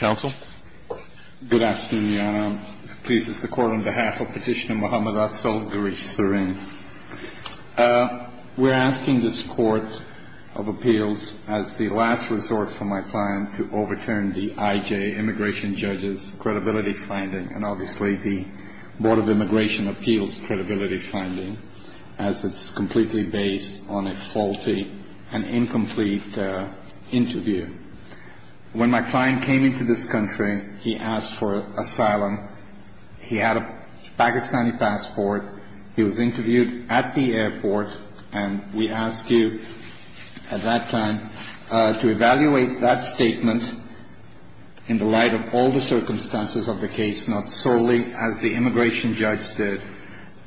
Good afternoon, Your Honor. Please, it's the court on behalf of Petitioner Mohammad Abzal Gharif Sareen. We're asking this Court of Appeals, as the last resort for my client, to overturn the I.J. Immigration Judges' Credibility Finding and obviously the Board of Immigration Appeals' Credibility Finding, as it's completely based on a faulty and incomplete interview. When my client came into this country, he asked for asylum, he had a Pakistani passport, he was interviewed at the airport and we asked you, at that time, to evaluate that statement in the light of all the circumstances of the case, not solely as the immigration judge did,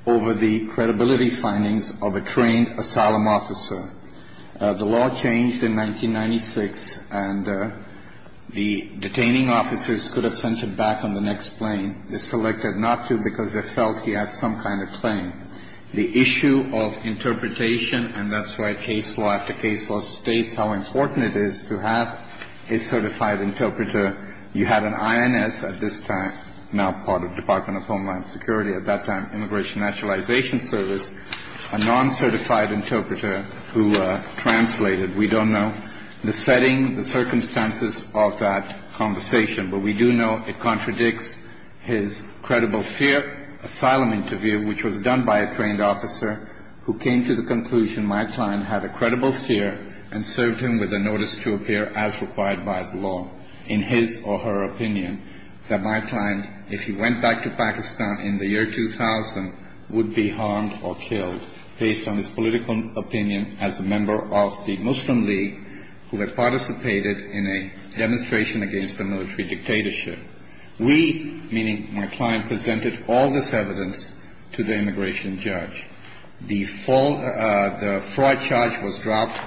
over the credibility findings of a trained asylum officer. The law changed in 1996 and the detaining officers could have sent him back on the next plane. They selected not to because they felt he had some kind of claim. The issue of interpretation, and that's why case law after case law states how important it is to have a certified interpreter. You had an INS at this time, now part of the Department of Homeland Security, at that time Immigration Naturalization Service, a non-certified interpreter who translated, we don't know the setting, the circumstances of that conversation, but we do know it contradicts his credible fear asylum interview, which was done by a trained officer who came to the conclusion my client had a credible fear and served him with a notice to appear as required by the law, in his or her opinion, that my client, if he went back to Pakistan in the year 2000, would be harmed or killed based on his political opinion as a member of the Muslim League who had participated in a demonstration against the military dictatorship. We, meaning my client, presented all this evidence to the immigration judge. The fraud charge was dropped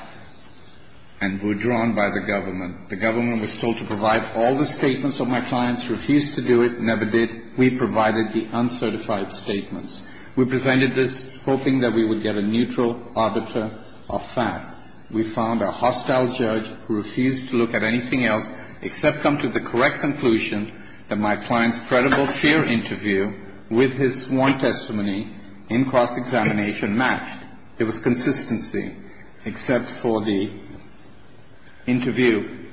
and withdrawn by the government. The government was told to provide all the statements of my client's, refused to do it, never did. We provided the uncertified statements. We presented this hoping that we would get a neutral auditor of fact. We found a hostile judge who refused to look at anything else except come to the correct conclusion that my client's credible fear interview with his sworn testimony in cross-examination matched. It was consistency, except for the interview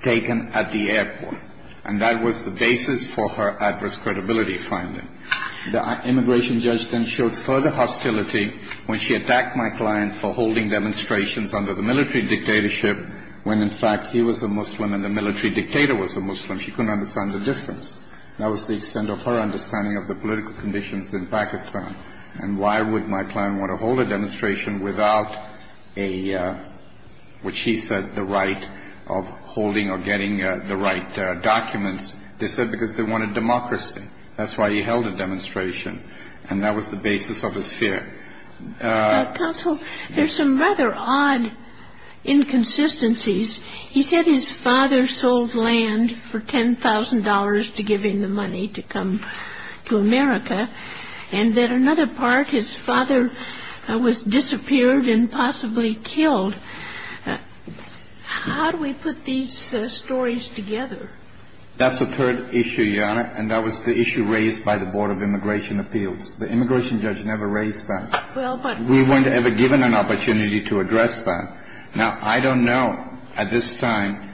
taken at the airport. And that was the basis for her adverse credibility finding. The immigration judge then showed further hostility when she attacked my client for holding demonstrations under the military dictatorship when, in fact, he was a Muslim and the military dictator was a Muslim. She couldn't understand the difference. That was the extent of her understanding of the political conditions in Pakistan. And why would my client want to hold a demonstration without a, which he said, the right of holding or getting the right documents? They said because they wanted democracy. That's why he held a demonstration. And that was the basis of his fear. Counsel, there's some rather odd inconsistencies. He said his father sold land for $10,000 to give him the money to come to America. And that another part, his father was disappeared and possibly killed. How do we put these stories together? That's the third issue, Your Honor. And that was the issue raised by the Board of Immigration Appeals. The immigration judge never raised that. We weren't ever given an opportunity to address that. Now, I don't know at this time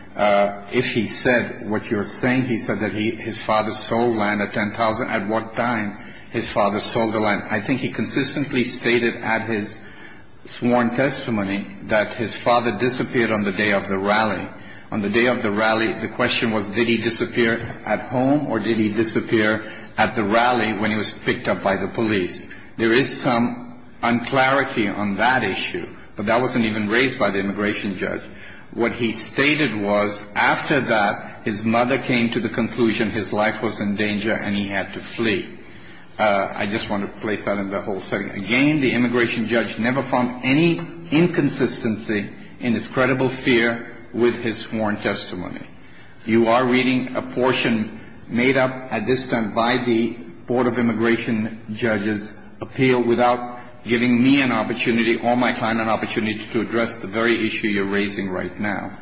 if he said what you're saying. He said that his father sold land at $10,000. At what time his father sold the land? I think he consistently stated at his sworn testimony that his father disappeared on the day of the rally. On the day of the rally, the question was did he disappear at home or did he disappear at the rally when he was picked up by the police? There is some unclarity on that issue. But that wasn't even raised by the immigration judge. What he stated was after that, his mother came to the conclusion his life was in danger and he had to flee. I just want to place that in the whole setting. Again, the immigration judge never found any inconsistency in his credible fear with his sworn testimony. You are reading a portion made up at this time by the Board of Immigration Judges' appeal without giving me an opportunity or my client an opportunity to address the very issue you're raising right now.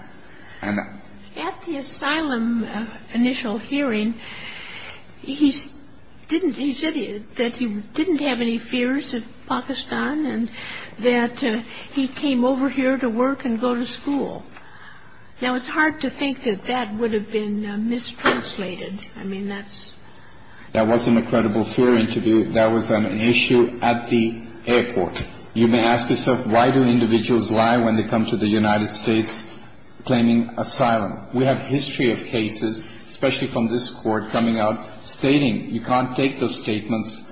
At the asylum initial hearing, he said that he didn't have any fears of Pakistan and that he came over here to work and go to school. Now, it's hard to think that that would have been mistranslated. I mean, that's... That wasn't a credible fear interview. That was an issue at the airport. You may ask yourself, why do individuals lie when they come to the United States claiming asylum? We have history of cases, especially from this court, coming out stating you can't take those statements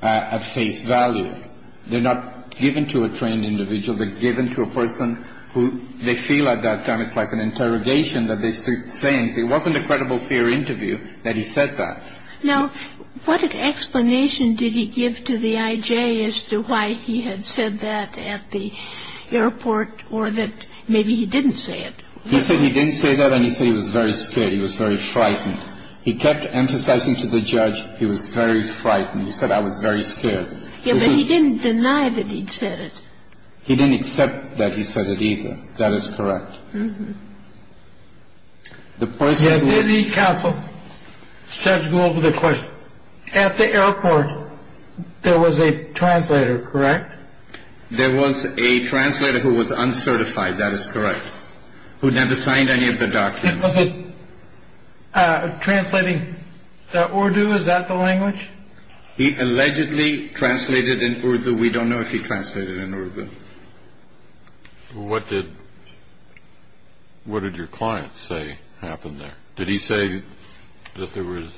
at face value. They're not given to a trained individual. They're given to a person who they feel at that time it's like an interrogation that they're saying. It wasn't a credible fear interview that he said that. Now, what explanation did he give to the IJ as to why he had said that at the airport or that maybe he didn't say it? He said he didn't say that and he said he was very scared. He was very frightened. He kept emphasizing to the judge he was very frightened. He said, I was very scared. Yeah, but he didn't deny that he'd said it. He didn't accept that he said it either. That is correct. Mm hmm. The point is that the council said to go over the question at the airport. There was a translator. Correct. There was a translator who was uncertified. That is correct. Who never signed any of the documents. Translating that or do. Is that the language he allegedly translated in order? We don't know if he translated it. What did. What did your client say happened there? Did he say that there was.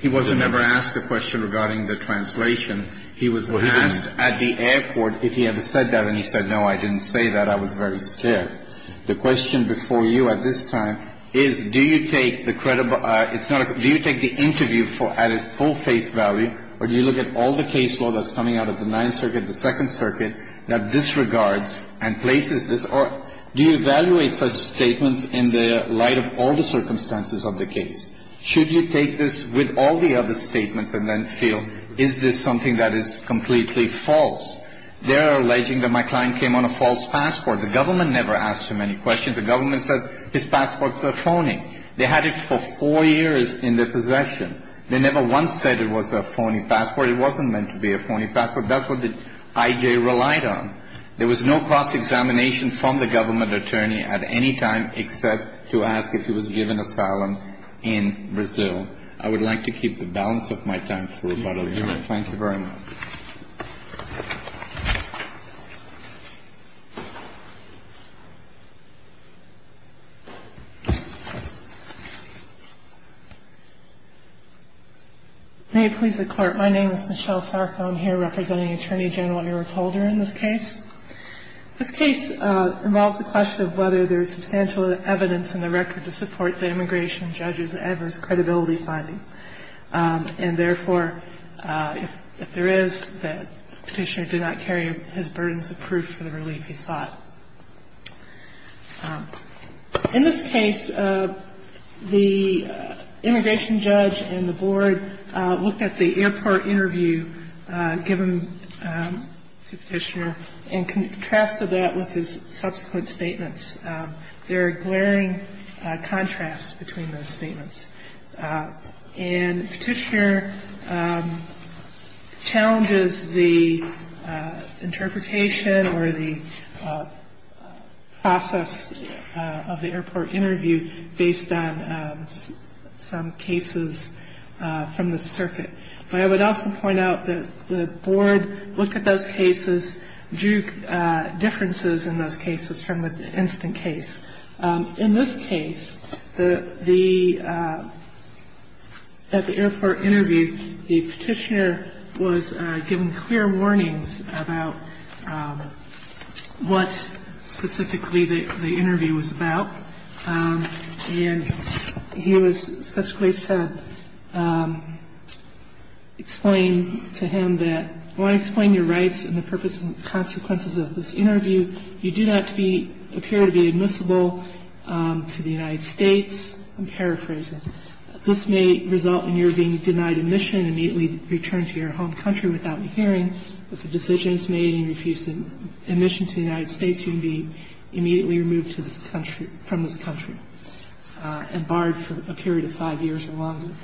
He wasn't ever asked a question regarding the translation. He was asked at the airport if he ever said that. And he said, no, I didn't say that. I was very scared. The question before you at this time is, do you take the credit? It's not. Do you take the interview for added full face value? Or do you look at all the case law that's coming out of the ninth circuit, the second circuit, that disregards and places this or do you evaluate such statements in the light of all the circumstances of the case? Should you take this with all the other statements and then feel, is this something that is completely false? They're alleging that my client came on a false passport. The government never asked him any questions. The government said his passports are phony. They had it for four years in their possession. They never once said it was a phony passport. It wasn't meant to be a phony passport. That's what the I.J. relied on. There was no cross-examination from the government attorney at any time except to ask if he was given asylum in Brazil. I would like to keep the balance of my time. Thank you very much. May it please the Court. My name is Michelle Sarko. I'm here representing Attorney General Eric Holder in this case. This case involves the question of whether there is substantial evidence in the record to support the immigration judges' adverse credibility finding. And therefore, if there is, the petitioner did not carry his burdens of proof for the relief he sought. In this case, the immigration judge and the board looked at the airport interview given to the petitioner and contrasted that with his subsequent statements. There are glaring contrasts between those statements. And the petitioner challenges the interpretation or the process of the airport interview based on some cases from the circuit. But I would also point out that the board looked at those cases, drew differences in those cases from the instant case. In this case, the — at the airport interview, the petitioner was given clear warnings about what specifically the interview was about. And he was specifically said — explained to him that, I want to explain your rights and the purpose and consequences of this interview. You do not appear to be admissible to the United States. I'm paraphrasing. This may result in your being denied admission and immediately returned to your home country without hearing. If a decision is made and you refuse admission to the United States, you can be immediately removed to this country — from this country and barred for a period of five years or longer.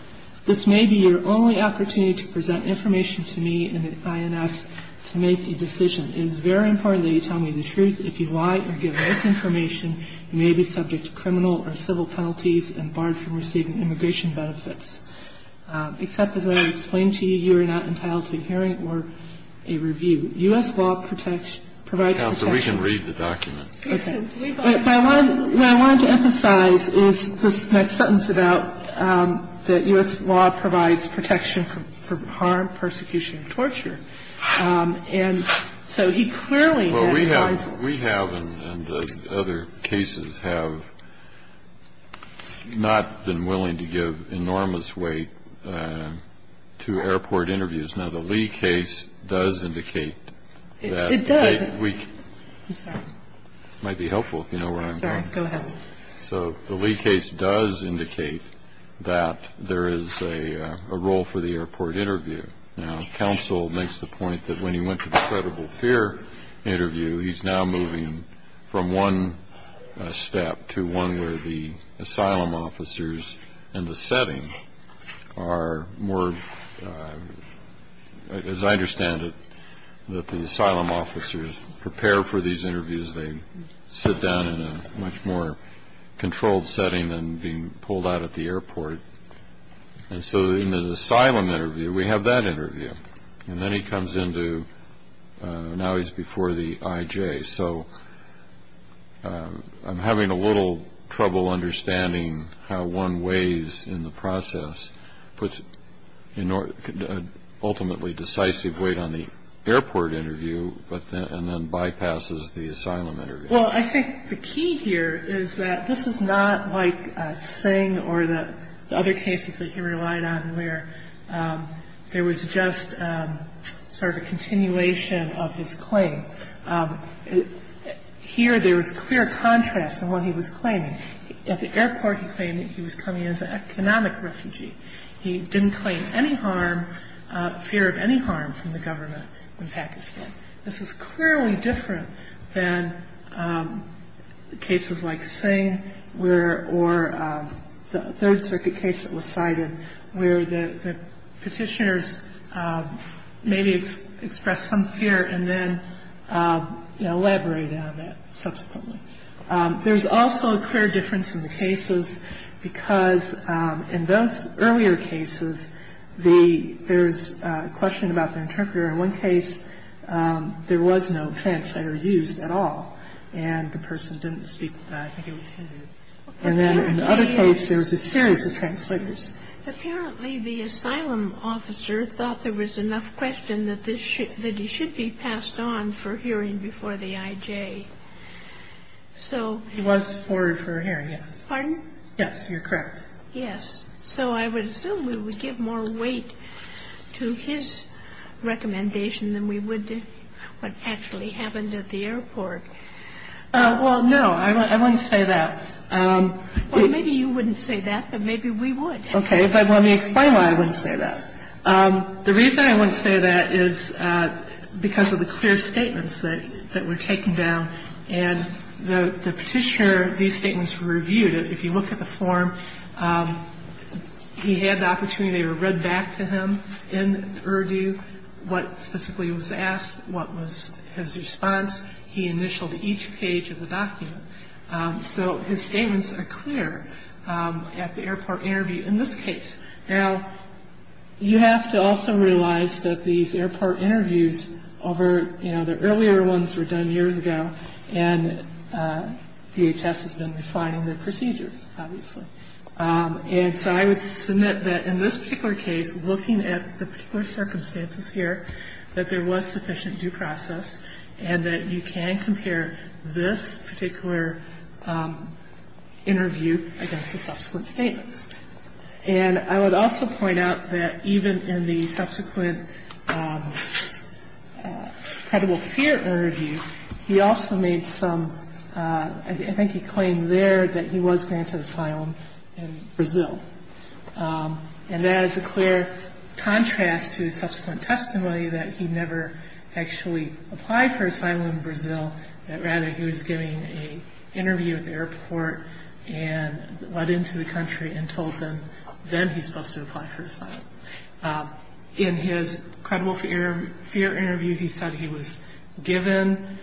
This may be your only opportunity to present information to me and the INS to make a decision. It is very important that you tell me the truth. If you lie or give this information, you may be subject to criminal or civil penalties and barred from receiving immigration benefits. Except, as I explained to you, you are not entitled to a hearing or a review. U.S. law protects — provides protection. We can read the document. Okay. What I wanted to emphasize is this next sentence about that U.S. law provides protection from harm, persecution, and torture. And so he clearly had — We have and other cases have not been willing to give enormous weight to airport interviews. Now, the Lee case does indicate that — It does. I'm sorry. It might be helpful if you know where I'm going. Sorry. Go ahead. So the Lee case does indicate that there is a role for the airport interview. Now, counsel makes the point that when he went to the credible fear interview, he's now moving from one step to one where the asylum officers in the setting are more — as I understand it, that the asylum officers prepare for these interviews, they sit down in a much more controlled setting than being pulled out at the airport. And so in the asylum interview, we have that interview. And then he comes into — now he's before the IJ. So I'm having a little trouble understanding how one weighs in the process, puts an ultimately decisive weight on the airport interview and then bypasses the asylum interview. Well, I think the key here is that this is not like Singh or the other cases that you relied on where there was just sort of a continuation of his claim. Here, there was clear contrast in what he was claiming. At the airport, he claimed that he was coming as an economic refugee. He didn't claim any harm, fear of any harm from the government in Pakistan. This is clearly different than cases like Singh or the Third Circuit case that was cited where the petitioners maybe expressed some fear and then elaborated on that subsequently. There's also a clear difference in the cases because in those earlier cases, there's a question about the interpreter. In one case, there was no translator used at all, and the person didn't speak. I think it was him. And then in the other case, there was a series of translators. Apparently, the asylum officer thought there was enough question that he should be passed on for hearing before the IJ. He was forwarded for hearing, yes. Pardon? Yes, you're correct. Yes. So I would assume we would give more weight to his recommendation than we would to what actually happened at the airport. Well, no. I wouldn't say that. Well, maybe you wouldn't say that, but maybe we would. Okay. But let me explain why I wouldn't say that. The reason I wouldn't say that is because of the clear statements that were taken down. And the petitioner, these statements were reviewed. If you look at the form, he had the opportunity to read back to him in Urdu what specifically was asked, what was his response. He initialed each page of the document. So his statements are clear at the airport interview in this case. Now, you have to also realize that these airport interviews over, you know, earlier ones were done years ago, and DHS has been refining their procedures, obviously. And so I would submit that in this particular case, looking at the particular circumstances here, that there was sufficient due process and that you can compare this particular interview against the subsequent statements. And I would also point out that even in the subsequent credible fear interview, he also made some ‑‑ I think he claimed there that he was granted asylum in Brazil. And that is a clear contrast to the subsequent testimony that he never actually applied for asylum in Brazil, but rather he was given an interview at the airport and led into the country and told them then he's supposed to apply for asylum. In his credible fear interview, he said he was given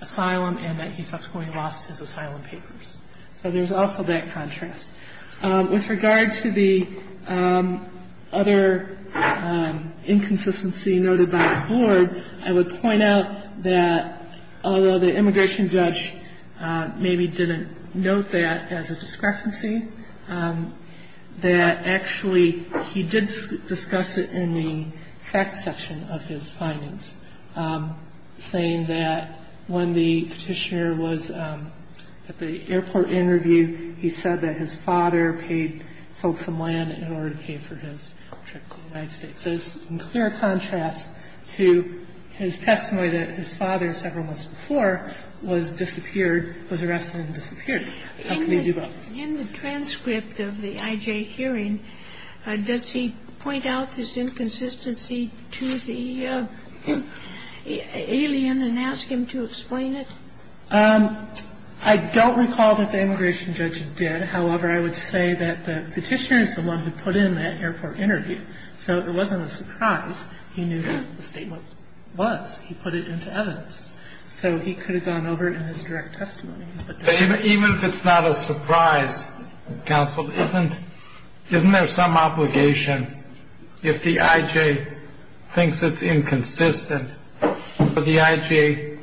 asylum and that he subsequently lost his asylum papers. So there's also that contrast. With regard to the other inconsistency noted by the board, I would point out that although the immigration judge maybe didn't note that as a discrepancy, that actually he did discuss it in the facts section of his findings, saying that when the petitioner was at the airport interview, he said that his father paid ‑‑ sold some land in order to pay for his trip to the United States. So it's in clear contrast to his testimony that his father several months before was disappeared, was arrested and disappeared. How can they do both? In the transcript of the IJ hearing, does he point out this inconsistency to the alien and ask him to explain it? I don't recall that the immigration judge did. However, I would say that the petitioner is the one who put in that airport interview. So it wasn't a surprise. He knew what the statement was. He put it into evidence. So he could have gone over it in his direct testimony. Even if it's not a surprise, counsel, isn't there some obligation, if the IJ thinks it's inconsistent for the IJ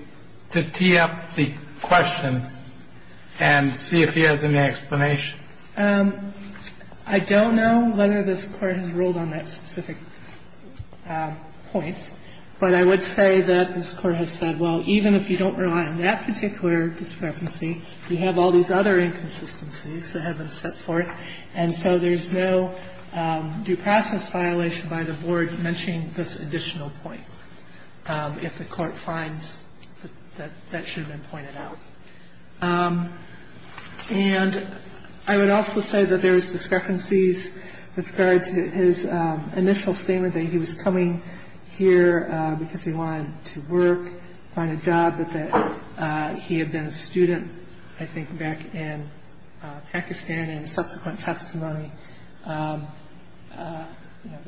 to tee up the question and see if he has any explanation? I don't know whether this Court has ruled on that specific point. But I would say that this Court has said, well, even if you don't rely on that particular discrepancy, you have all these other inconsistencies that have been set forth. And so there's no due process violation by the Board mentioning this additional point, if the Court finds that that should have been pointed out. And I would also say that there's discrepancies with regard to his initial statement that he was coming here because he wanted to work, find a job, but that he had been a student, I think, back in Pakistan. And in subsequent testimony,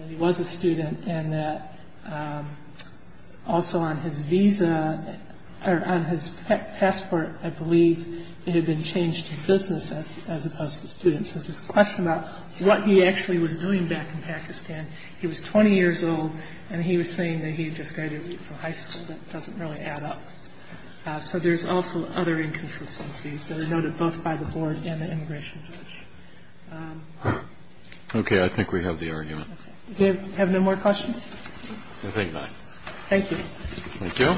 he was a student. And also on his visa, or on his passport, I believe, it had been changed to business as opposed to student. So there's this question about what he actually was doing back in Pakistan. He was 20 years old, and he was saying that he had just graduated from high school. That doesn't really add up. So there's also other inconsistencies that are noted both by the Board and the immigration judge. Kennedy. Okay. I think we have the argument. Do you have no more questions? I think not. Thank you. Thank you.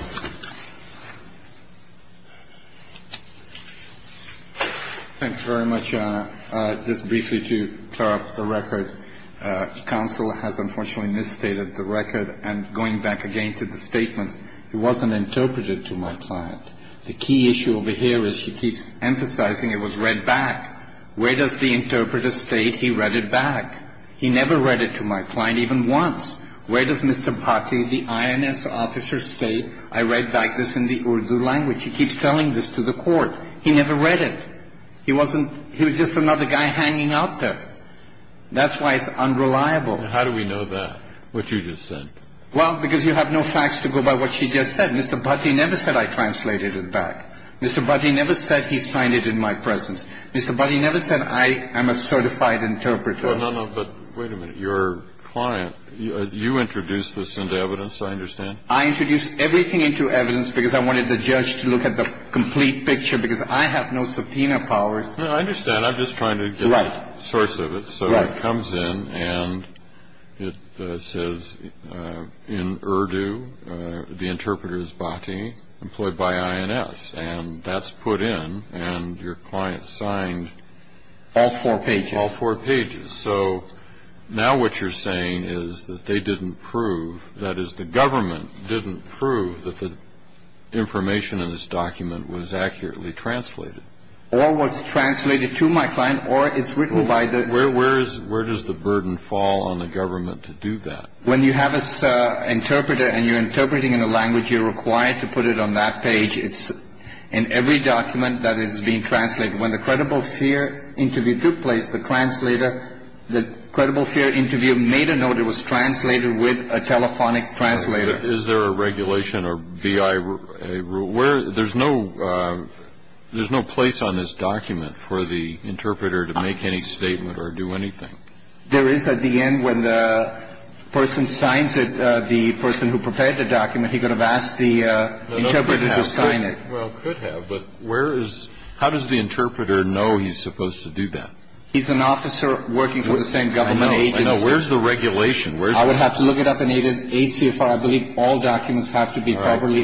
Thank you very much. Just briefly to clear up the record, counsel has unfortunately misstated the record. And going back again to the statements, it wasn't interpreted to my client. The key issue over here is he keeps emphasizing it was read back. Where does the interpreter state he read it back? He never read it to my client even once. Where does Mr. Bhatti, the INS officer, state, I read back this in the Urdu language. He keeps telling this to the court. He never read it. He was just another guy hanging out there. That's why it's unreliable. How do we know that, what you just said? Well, because you have no facts to go by what she just said. Mr. Bhatti never said I translated it back. Mr. Bhatti never said he signed it in my presence. Mr. Bhatti never said I am a certified interpreter. No, no, no. But wait a minute. Your client, you introduced this into evidence, I understand. I introduced everything into evidence because I wanted the judge to look at the complete picture because I have no subpoena powers. No, I understand. I'm just trying to get the source of it. So it comes in and it says in Urdu the interpreter is Bhatti, employed by INS. And that's put in and your client signed all four pages. All four pages. So now what you're saying is that they didn't prove, that is the government didn't prove that the information in this document was accurately translated. Or was translated to my client or it's written by the. Where does the burden fall on the government to do that? When you have an interpreter and you're interpreting in a language, you're required to put it on that page. It's in every document that is being translated. When the credible fear interview took place, the translator, the credible fear interview made a note. It was translated with a telephonic translator. Is there a regulation or be a rule where there's no there's no place on this document for the interpreter to make any statement or do anything? There is at the end when the person signs it. The person who prepared the document, he could have asked the interpreter to sign it. Well, could have. But where is how does the interpreter know he's supposed to do that? He's an officer working for the same government. I know. Where's the regulation? I would have to look it up and need it. I believe all documents have to be properly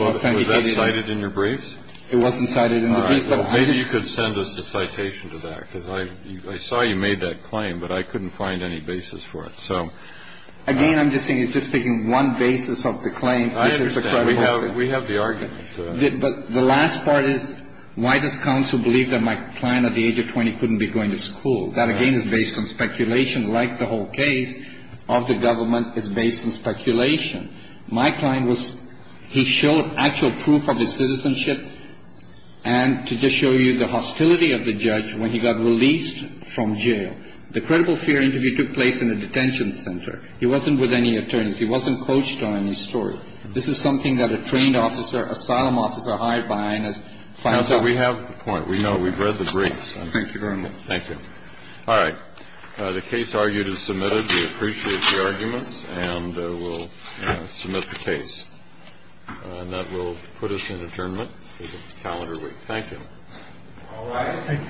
cited in your briefs. It wasn't cited in the brief. Maybe you could send us a citation to that because I saw you made that claim, but I couldn't find any basis for it. So again, I'm just saying it's just taking one basis of the claim. We have the argument. But the last part is, why does counsel believe that my client at the age of 20 couldn't be going to school? That, again, is based on speculation, like the whole case of the government is based on speculation. My client was he showed actual proof of his citizenship and to just show you the hostility of the judge when he got released from jail. The credible fear interview took place in a detention center. He wasn't with any attorneys. He wasn't coached on any story. This is something that a trained officer, asylum officer hired by finance. So we have the point. We know we've read the briefs. Thank you very much. Thank you. All right. The case argued is submitted. We appreciate the arguments. And we'll submit the case. And that will put us in adjournment calendar week. Thank you. All right. Thank you. Thank you.